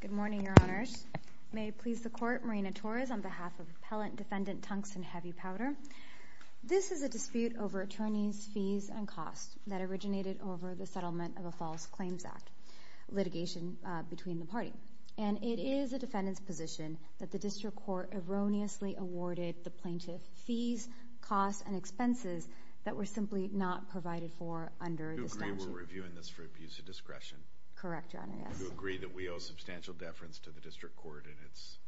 Good morning, Your Honors. May it please the Court, Marina Torres, on behalf of Appellant Defendant Tungsten Heavy Powder, this is a dispute over attorneys' fees and costs that originated over the settlement of a false claims act, litigation between the party. And it is the defendant's position that the District Court erroneously awarded the plaintiff fees, costs, and expenses that were simply not provided for under this statute. And you were reviewing this for abuse of discretion? Correct, Your Honor, yes. Do you agree that we owe substantial deference to the District Court in its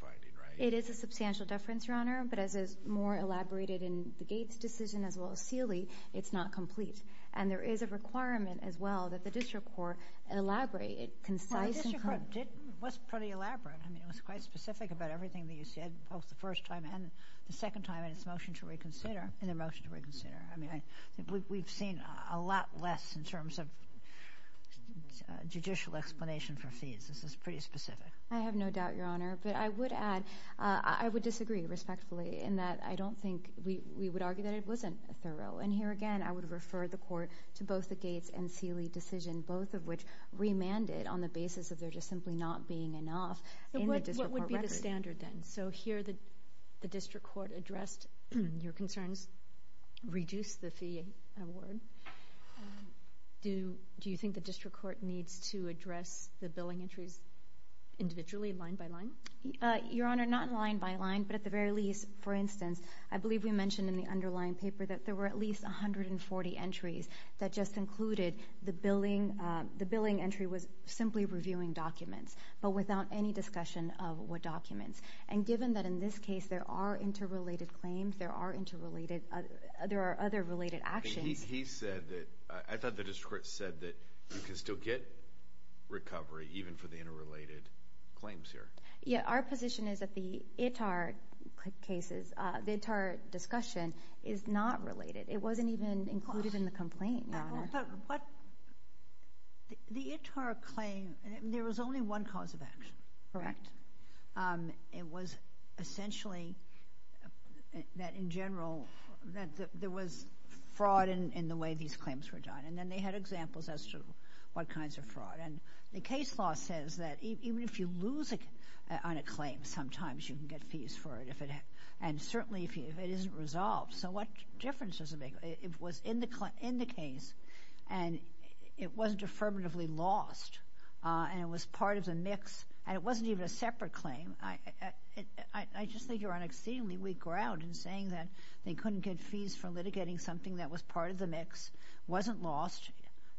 finding, right? It is a substantial deference, Your Honor, but as is more elaborated in the Gates decision as well as Sealy, it's not complete. And there is a requirement as well that the District Court elaborate it concise and correct. Well, the District Court did, was pretty elaborate, I mean, it was quite specific about everything that you said both the first time and the second time in its motion to reconsider, in the motion to reconsider. I mean, I think we've seen a lot less in terms of judicial explanation for fees. This is pretty specific. I have no doubt, Your Honor, but I would add, I would disagree respectfully in that I don't think we would argue that it wasn't thorough. And here again, I would refer the Court to both the Gates and Sealy decision, both of which remanded on the basis of there just simply not being enough in the District Court record. What would be the standard then? So here, the District Court addressed your concerns, reduced the fee award. Do you think the District Court needs to address the billing entries individually, line by line? Your Honor, not line by line, but at the very least, for instance, I believe we mentioned in the underlying paper that there were at least 140 entries that just included the billing, the billing entry was simply reviewing documents, but without any discussion of what documents. And given that in this case, there are interrelated claims, there are interrelated, there are other related actions. But he said that, I thought the District Court said that you can still get recovery even for the interrelated claims here. Yeah, our position is that the ITAR cases, the ITAR discussion is not related. It wasn't even included in the complaint, Your Honor. But what, the ITAR claim, there was only one cause of action. Correct. It was essentially that in general, that there was fraud in the way these claims were done. And then they had examples as to what kinds of fraud. And the case law says that even if you lose on a claim, sometimes you can get fees for it if it, and certainly if it isn't resolved. So what difference does it make? It was in the case, and it wasn't affirmatively lost, and it was part of the mix. And it wasn't even a separate claim. I just think you're on exceedingly weak ground in saying that they couldn't get fees for litigating something that was part of the mix, wasn't lost,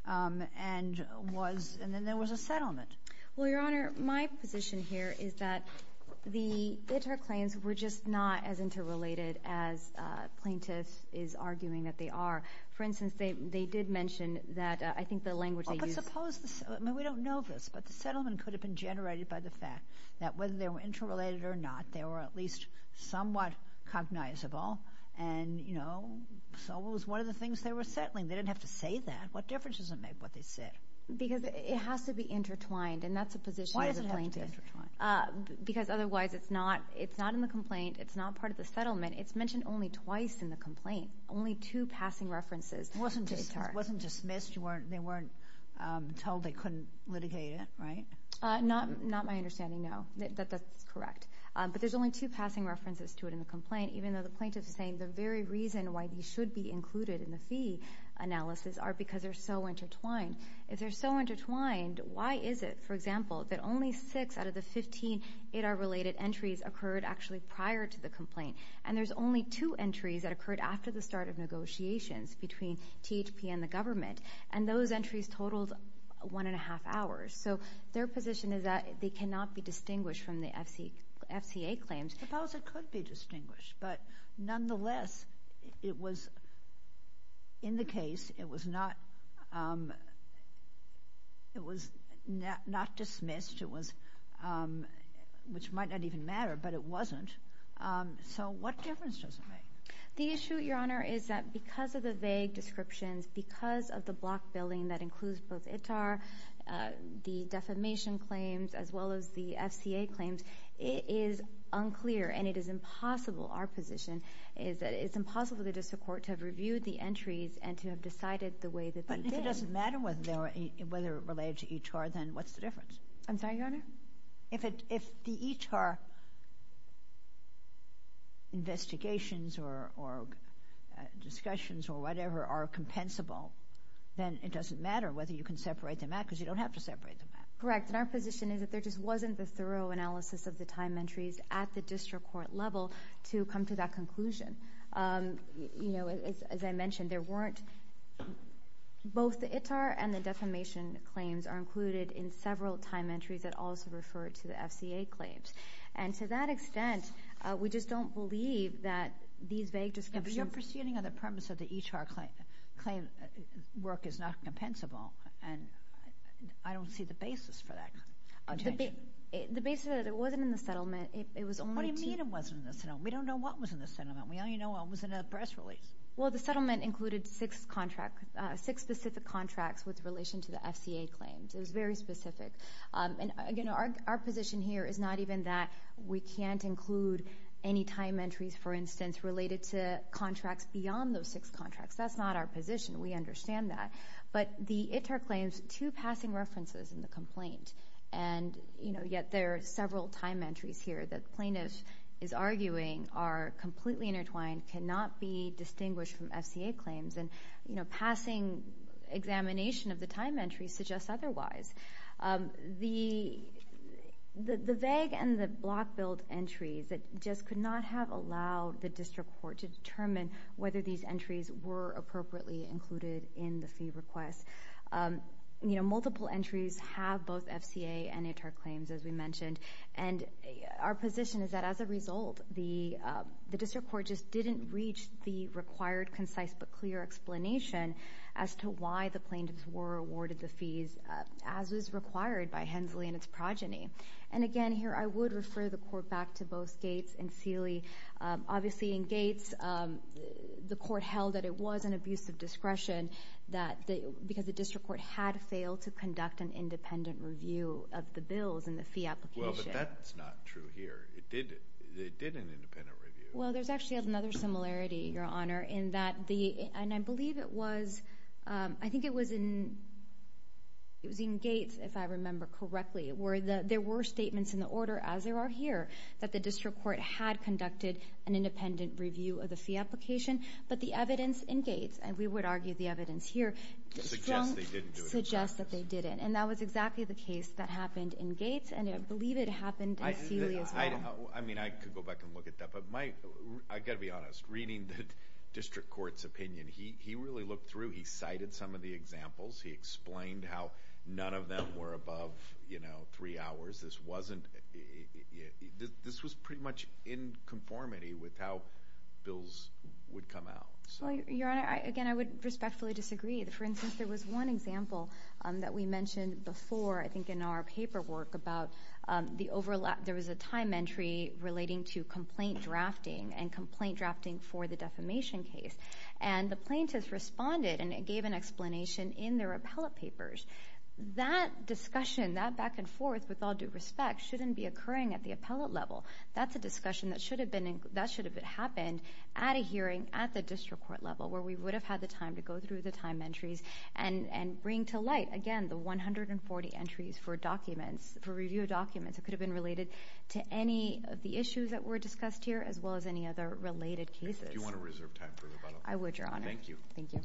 and was, and then there was a settlement. Well, Your Honor, my position here is that the ITAR claims were just not as interrelated as plaintiffs is arguing that they are. For instance, they did mention that, I think the language they used... I mean, we don't know this, but the settlement could have been generated by the fact that whether they were interrelated or not, they were at least somewhat cognizable, and, you know, so it was one of the things they were settling. They didn't have to say that. What difference does it make what they said? Because it has to be intertwined, and that's a position as a plaintiff. Why does it have to be intertwined? Because otherwise it's not, it's not in the complaint, it's not part of the settlement. It's mentioned only twice in the complaint. Only two passing references to ITAR. It wasn't dismissed. They weren't told they couldn't litigate it, right? Not my understanding, no. That's correct. But there's only two passing references to it in the complaint, even though the plaintiff is saying the very reason why these should be included in the fee analysis are because they're so intertwined. If they're so intertwined, why is it, for example, that only six out of the 15 ITAR-related entries occurred actually prior to the complaint, and there's only two entries that occurred after the start of negotiations between THP and the government, and those entries totaled one and a half hours. So their position is that they cannot be distinguished from the FCA claims. Suppose it could be distinguished, but nonetheless, it was in the case, it was not, it was not dismissed, it was, which might not even matter, but it wasn't. So what difference does it make? The issue, Your Honor, is that because of the vague descriptions, because of the block billing that includes both ITAR, the defamation claims, as well as the FCA claims, it is unclear and it is impossible, our position, is that it's impossible for the district court to have reviewed the entries and to have decided the way that they did. But if it doesn't matter whether they're related to ITAR, then what's the difference? I'm sorry, Your Honor? If the ITAR investigations or discussions or whatever are compensable, then it doesn't matter whether you can separate them out because you don't have to separate them out. Correct. And our position is that there just wasn't the thorough analysis of the time entries at the district court level to come to that conclusion. You know, as I mentioned, there weren't, both the ITAR and the defamation claims are included in several time entries that also refer to the FCA claims. And to that extent, we just don't believe that these vague descriptions... But you're proceeding on the premise that the ITAR claim work is not compensable, and I don't see the basis for that. The basis is that it wasn't in the settlement. It was only to... What do you mean it wasn't in the settlement? We don't know what was in the settlement. We only know it was in a press release. Well, the settlement included six specific contracts with relation to the FCA claims. It was very specific. And again, our position here is not even that we can't include any time entries, for instance, related to contracts beyond those six contracts. That's not our position. We understand that. But the ITAR claims, two passing references in the complaint, and yet there are several time entries here that plaintiff is arguing are completely intertwined, cannot be distinguished from FCA claims. And passing examination of the time entries suggests otherwise. The vague and the block-billed entries just could not have allowed the district court to determine whether these entries were appropriately included in the fee request. Multiple entries have both FCA and ITAR claims, as we mentioned. And our position is that, as a result, the district court just didn't reach the required concise but clear explanation as to why the plaintiffs were awarded the fees, as is required by Hensley and its progeny. And again, here I would refer the court back to both Gates and Seeley. Obviously, in Gates, the court held that it was an abuse of discretion because the district court had failed to conduct an independent review of the bills and the fee application. Well, but that's not true here. It did an independent review. Well, there's actually another similarity, Your Honor. And I believe it was, I think it was in Gates, if I remember correctly, where there were statements in the order, as there are here, that the district court had conducted an independent review of the fee application. But the evidence in Gates, and we would argue the evidence here, suggests that they didn't. And that was exactly the case that happened in Gates, and I believe it happened in Seeley as well. I mean, I could go back and look at that, but I've got to be honest, reading the district court's opinion, he really looked through, he cited some of the examples, he explained how none of them were above, you know, three hours. This wasn't, this was pretty much in conformity with how bills would come out. Well, Your Honor, again, I would respectfully disagree. For instance, there was one example that we mentioned before, I think in our paperwork, about the overlap, there was a time entry relating to complaint drafting, and complaint drafting for the defamation case. And the plaintiffs responded, and it gave an explanation in their appellate papers. That discussion, that back and forth, with all due respect, shouldn't be occurring at the appellate level. That's a discussion that should have been, that should have happened at a hearing, at the district court level, where we would have had the time to go through the time entries, and bring to light, again, the 140 entries for documents, for review of documents that could have been related to any of the issues that were discussed here, as well as any other related cases. Do you want to reserve time for your final question? I would, Your Honor. Thank you. Thank you.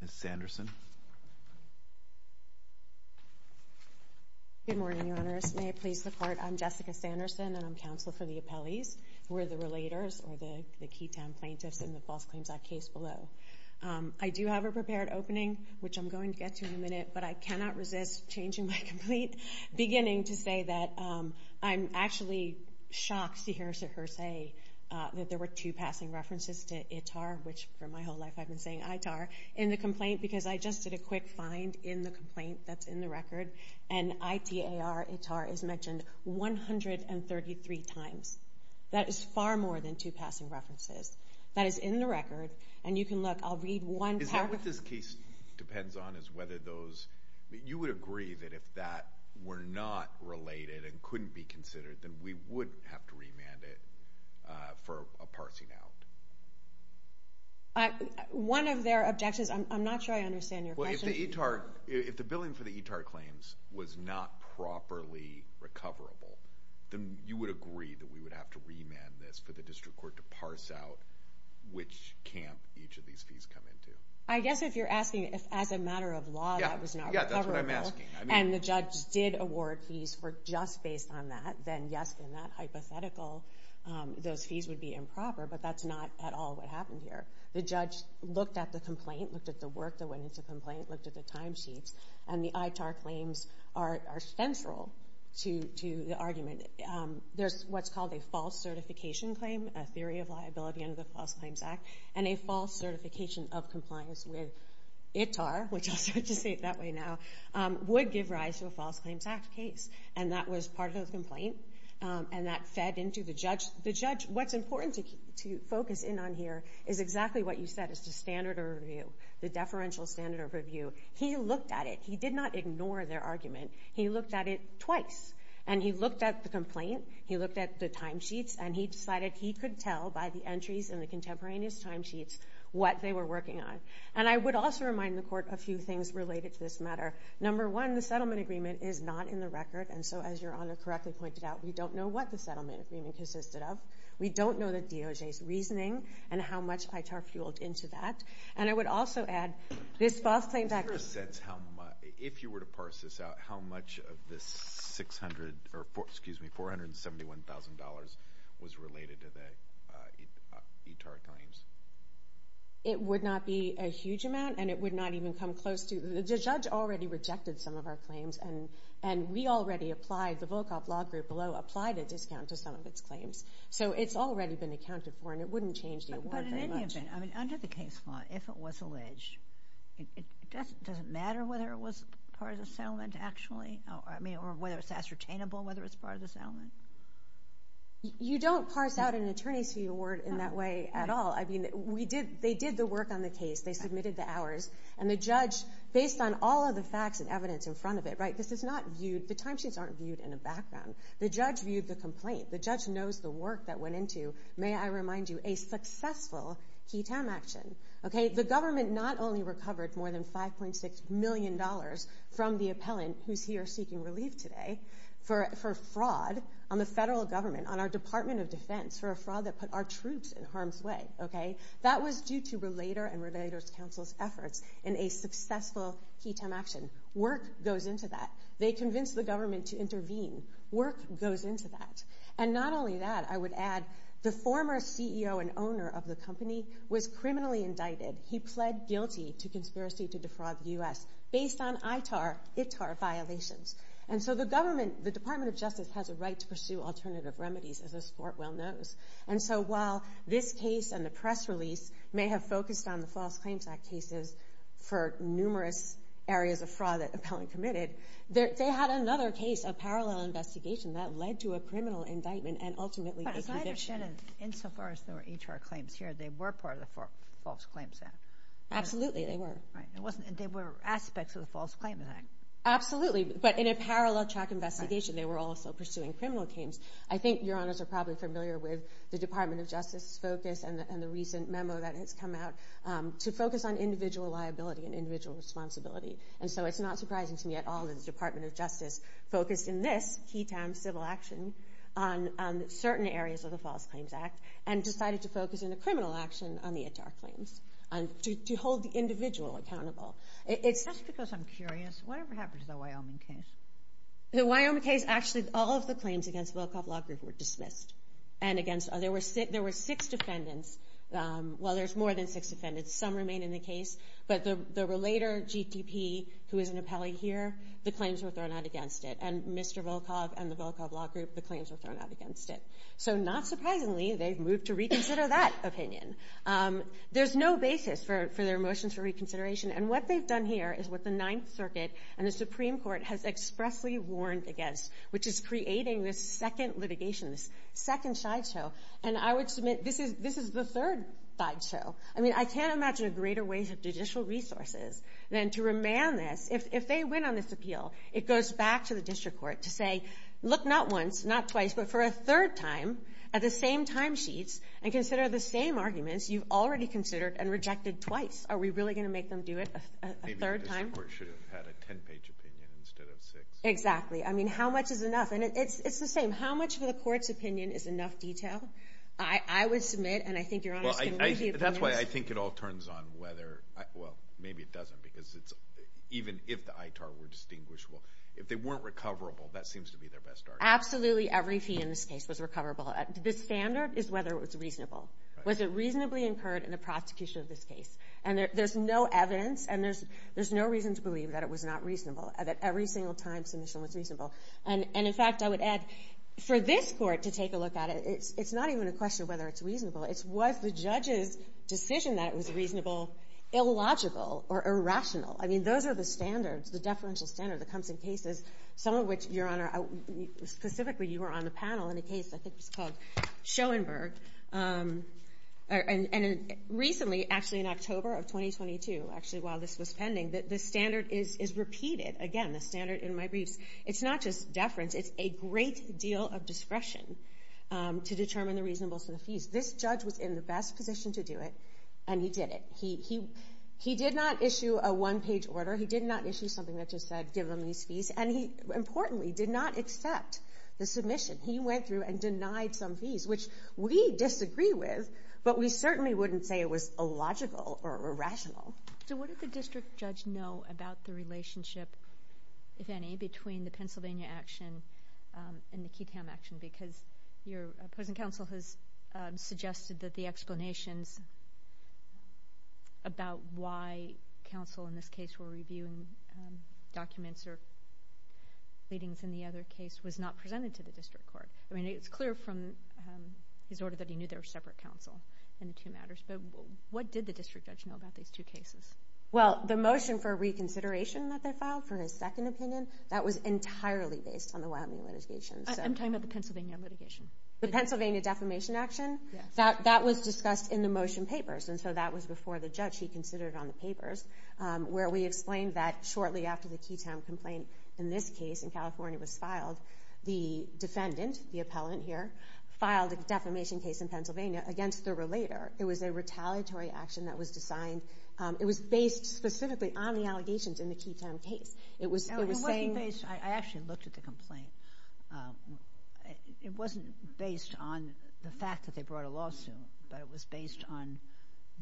Ms. Sanderson. Good morning, Your Honors. May I please report? I'm Jessica Sanderson, and I'm counsel for the appellees. We're the relators, or the key town plaintiffs in the False Claims Act case below. I do have a prepared opening, which I'm going to get to in a minute, but I cannot resist changing my complete beginning to say that I'm actually shocked to hear her say that there were two passing references to ITAR, which for my whole life I've been saying ITAR, in the complaint, because I just did a quick find in the complaint that's in the record, and ITAR is mentioned 133 times. That is far more than two passing references. That is in the record, and you can look. I'll read one paragraph. Is that what this case depends on, is whether those, you would agree that if that were not related and couldn't be considered, then we would have to remand it for a parsing out? One of their objections, I'm not sure I understand your question. If the billing for the ITAR claims was not properly recoverable, then you would agree that we would have to remand this for the district court to parse out which camp each of these fees come into? I guess if you're asking if as a matter of law that was not recoverable, and the judge did award fees for just based on that, then yes, in that hypothetical, those fees would be improper, but that's not at all what happened here. The judge looked at the complaint, looked at the work that went into the complaint, looked at the timesheets, and the ITAR claims are central to the argument. There's what's called a false certification claim, a theory of liability under the False Claims Act, and a false certification of compliance with ITAR, which I'll start to say it that way now, would give rise to a False Claims Act case, and that was part of the complaint, and that fed into the judge. The judge, what's important to focus in on here is exactly what you said, is the standard of review, the deferential standard of review. He looked at it. He did not ignore their argument. He looked at it twice, and he looked at the complaint, he looked at the timesheets, and he decided he could tell by the entries in the contemporaneous timesheets what they were working on, and I would also remind the court a few things related to this matter. Number one, the settlement agreement is not in the record, and so as Your Honor correctly pointed out, we don't know what the settlement agreement consisted of. We don't know the DOJ's reasoning, and how much ITAR fueled into that, and I would also add this False Claims Act case. If you were to parse this out, how much of this $471,000 was related to the ITAR claims? It would not be a huge amount, and it would not even come close to, the judge already applied a discount to some of its claims, so it's already been accounted for, and it wouldn't change the award very much. But in any event, under the case law, if it was alleged, does it matter whether it was part of the settlement, actually, or whether it's ascertainable whether it's part of the settlement? You don't parse out an attorney's fee award in that way at all. They did the work on the case, they submitted the hours, and the judge, based on all of the facts and evidence in front of it, this is not viewed, the timesheets aren't viewed in the background. The judge viewed the complaint, the judge knows the work that went into, may I remind you, a successful KETAM action. The government not only recovered more than $5.6 million from the appellant, who's here seeking relief today, for fraud on the federal government, on our Department of Defense, for a fraud that put our troops in harm's way. That was due to Relator and Relator's Counsel's efforts in a successful KETAM action. Work goes into that. They convinced the government to intervene. Work goes into that. And not only that, I would add, the former CEO and owner of the company was criminally indicted. He pled guilty to conspiracy to defraud the U.S. based on ITAR violations. And so the government, the Department of Justice, has a right to pursue alternative remedies, as this court well knows. And so while this case and the press release may have focused on the False Claims Act cases for numerous areas of fraud that the appellant committed, they had another case, a parallel investigation that led to a criminal indictment and ultimately a conviction. But as I understand it, insofar as there were HR claims here, they were part of the False Claims Act. Absolutely, they were. Right. They were aspects of the False Claims Act. Absolutely. But in a parallel track investigation, they were also pursuing criminal claims. I think your honors are probably familiar with the Department of Justice's focus and the recent memo that has come out to focus on individual liability and individual responsibility. And so it's not surprising to me at all that the Department of Justice focused in this key time civil action on certain areas of the False Claims Act and decided to focus in a criminal action on the ITAR claims, to hold the individual accountable. Just because I'm curious, what ever happened to the Wyoming case? The Wyoming case, actually all of the claims against Volkov Law Group were dismissed. And against, there were six defendants, well there's more than six defendants, some remain in the case. But the relater, GTP, who is an appellee here, the claims were thrown out against it. And Mr. Volkov and the Volkov Law Group, the claims were thrown out against it. So not surprisingly, they've moved to reconsider that opinion. There's no basis for their motions for reconsideration. And what they've done here is what the Ninth Circuit and the Supreme Court has expressly warned against, which is creating this second litigation, this second sideshow. And I would submit this is the third sideshow. I mean, I can't imagine a greater waste of judicial resources than to remand this. If they win on this appeal, it goes back to the district court to say, look, not once, not twice, but for a third time, at the same time sheets, and consider the same arguments you've already considered and rejected twice. Are we really going to make them do it a third time? Maybe the district court should have had a ten-page opinion instead of six. Exactly. I mean, how much is enough? And it's the same. How much of the court's opinion is enough detail? I would submit, and I think Your Honors can weigh the opinions. That's why I think it all turns on whether, well, maybe it doesn't, because it's, even if the ITAR were distinguishable, if they weren't recoverable, that seems to be their best argument. Absolutely every fee in this case was recoverable. The standard is whether it was reasonable. Was it reasonably incurred in the prosecution of this case? And there's no evidence, and there's no reason to believe that it was not reasonable, that every single time submission was reasonable. And in fact, I would add, for this court to take a look at it, it's not even a question of whether it's reasonable. It's was the judge's decision that it was reasonable illogical or irrational? I mean, those are the standards, the deferential standards that comes in cases, some of which, Your Honor, specifically you were on the panel in a case I think was called Schoenberg. And recently, actually in October of 2022, actually while this was pending, the standard is repeated. Again, the standard in my briefs, it's not just deference, it's a great deal of discretion to determine the reasonableness of the fees. This judge was in the best position to do it, and he did it. He did not issue a one-page order. He did not issue something that just said, give them these fees. And he, importantly, did not accept the submission. He went through and denied some fees, which we disagree with, but we certainly wouldn't say it was illogical or irrational. So what did the district judge know about the relationship, if any, between the Pennsylvania action and the Keytown action? Because your opposing counsel has suggested that the explanations about why counsel in this case were reviewing documents or readings in the other case was not presented to the district court. I mean, it's clear from his order that he knew they were separate counsel in the two matters. But what did the district judge know about these two cases? Well, the motion for reconsideration that they filed for his second opinion, that was entirely based on the Wyoming litigation. I'm talking about the Pennsylvania litigation. The Pennsylvania defamation action, that was discussed in the motion papers, and so that was before the judge. He considered it on the papers, where we explained that shortly after the Keytown complaint in this case in California was filed, the defendant, the appellant here, filed a defamation case in Pennsylvania against the relator. It was a retaliatory action that was designed, it was based specifically on the allegations in the Keytown case. It was saying... It wasn't based, I actually looked at the complaint. It wasn't based on the fact that they brought a lawsuit, but it was based on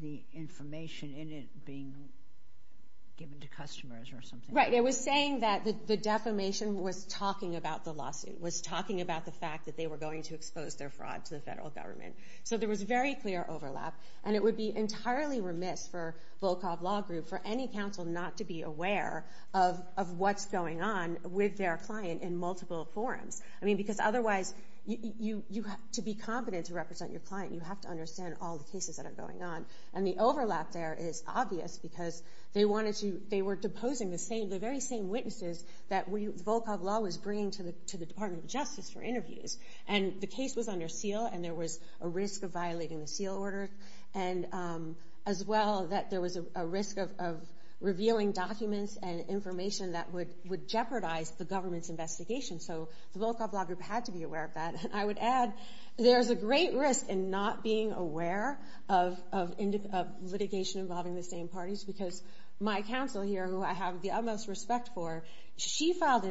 the information in it being given to customers or something. Right, it was saying that the defamation was talking about the lawsuit, was talking about the fact that they were going to expose their fraud to the federal government. So there was very clear overlap, and it would be entirely remiss for Volkov Law Group, for any counsel not to be aware of what's going on with their client in multiple forums. I mean, because otherwise, to be competent to represent your client, you have to understand all the cases that are going on. And the overlap there is obvious, because they wanted to... They were deposing the same, the very same witnesses that Volkov Law was bringing to the Department of Justice for interviews. And the case was under seal, and there was a risk of violating the seal order. And as well, that there was a risk of revealing documents and information that would jeopardize the government's investigation. So the Volkov Law Group had to be aware of that. I would add, there's a great risk in not being aware of litigation involving the same parties, because my counsel here, who I have the utmost respect for, she filed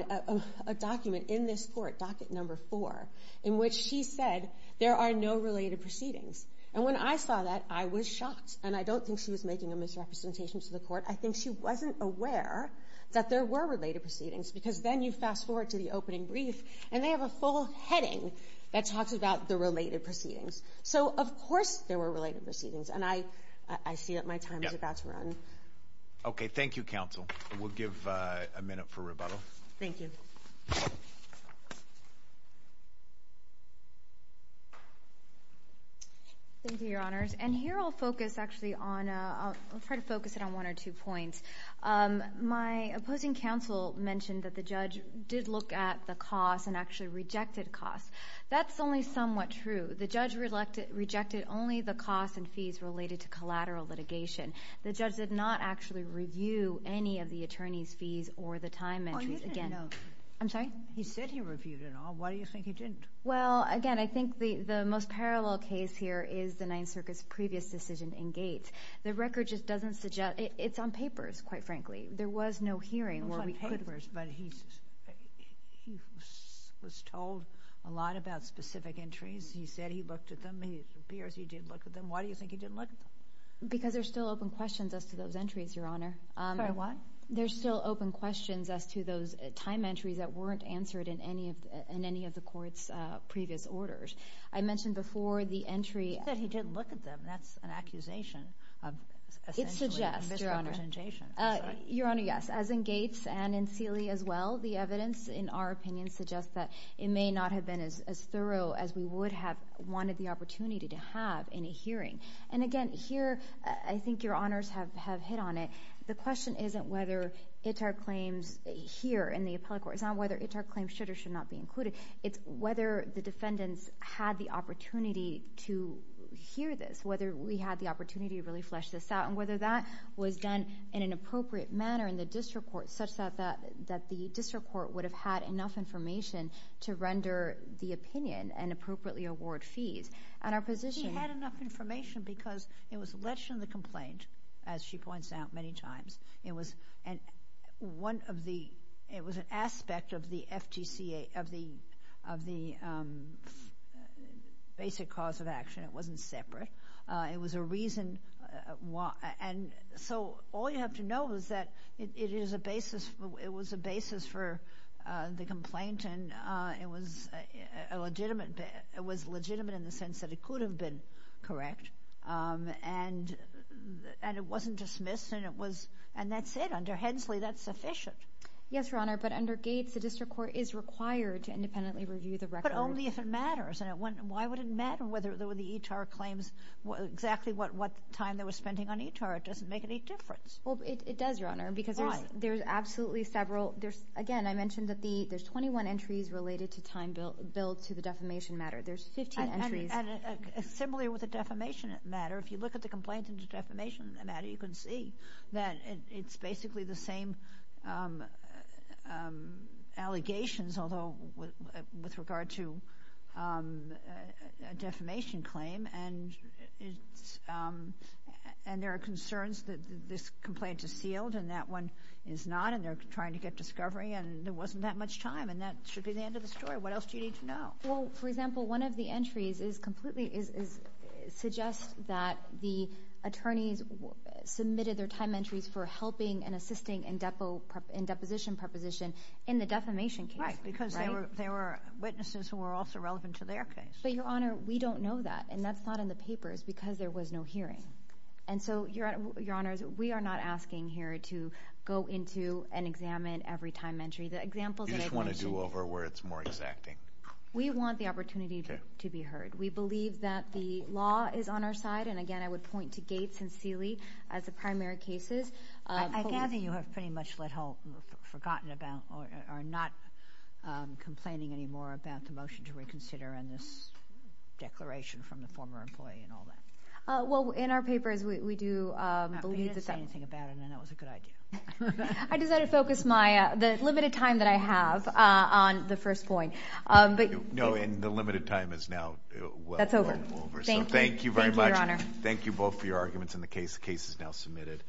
a document in this case, number four, in which she said, there are no related proceedings. And when I saw that, I was shocked. And I don't think she was making a misrepresentation to the court. I think she wasn't aware that there were related proceedings, because then you fast forward to the opening brief, and they have a full heading that talks about the related proceedings. So of course there were related proceedings, and I see that my time is about to run. Okay. Thank you, counsel. We'll give a minute for rebuttal. Thank you. Thank you, your honors. And here I'll focus actually on, I'll try to focus it on one or two points. My opposing counsel mentioned that the judge did look at the costs and actually rejected costs. That's only somewhat true. The judge rejected only the costs and fees related to collateral litigation. The judge did not actually review any of the attorney's fees or the time entries. He didn't. I'm sorry? He said he reviewed it all. Why do you think he didn't? Well, again, I think the most parallel case here is the Ninth Circuit's previous decision in Gates. The record just doesn't suggest, it's on papers, quite frankly. There was no hearing where we could have. It's on papers, but he was told a lot about specific entries. He said he looked at them. It appears he did look at them. Why do you think he didn't look at them? Because there's still open questions as to those entries, your honor. Sorry, what? There's still open questions as to those time entries that weren't answered in any of the court's previous orders. I mentioned before, the entry- He said he didn't look at them. That's an accusation of essentially misrepresentation. It suggests, your honor. Your honor, yes. As in Gates and in Seeley as well, the evidence, in our opinion, suggests that it may not have been as thorough as we would have wanted the opportunity to have in a hearing. And again, here, I think your honors have hit on it. The question isn't whether it's our claims here in the appellate court. It's not whether it's our claims should or should not be included. It's whether the defendants had the opportunity to hear this. Whether we had the opportunity to really flesh this out and whether that was done in an appropriate manner in the district court such that the district court would have had enough information to render the opinion and appropriately award fees. And our position- Because it was alleged in the complaint, as she points out many times, it was one of the- It was an aspect of the FGCA, of the basic cause of action. It wasn't separate. It was a reason why- And so, all you have to know is that it is a basis- It was a basis for the complaint and it was legitimate in the sense that it could have been correct and it wasn't dismissed and it was- And that's it. Under Hensley, that's sufficient. Yes, your honor, but under Gates, the district court is required to independently review the record. But only if it matters. And why would it matter whether the eTAR claims, exactly what time they were spending on eTAR? It doesn't make any difference. Well, it does, your honor, because there's absolutely several- Why? Again, I mentioned that there's 21 entries related to time billed to the defamation matter. There's 15 entries- And similarly with the defamation matter, if you look at the complaint in the defamation matter, you can see that it's basically the same allegations, although with regard to a defamation claim and there are concerns that this complaint is sealed and that one is not and they're trying to get discovery and there wasn't that much time and that should be the end of the story. What else do you need to know? Well, for example, one of the entries is completely, suggests that the attorneys submitted their time entries for helping and assisting in deposition preposition in the defamation case. Right, because there were witnesses who were also relevant to their case. But your honor, we don't know that and that's not in the papers because there was no hearing. And so, your honors, we are not asking here to go into and examine every time entry. The examples that I've mentioned- You just want to do over where it's more exacting. We want the opportunity to be heard. We believe that the law is on our side and again, I would point to Gates and Seeley as the primary cases. I gather you have pretty much forgotten about or are not complaining anymore about the motion to reconsider and this declaration from the former employee and all that. Well, in our papers, we do believe that- You didn't say anything about it and that was a good idea. I decided to focus the limited time that I have on the first point. No, and the limited time is now well over. That's over. Thank you. Thank you very much. Thank you both for your arguments on the case. The case is now submitted.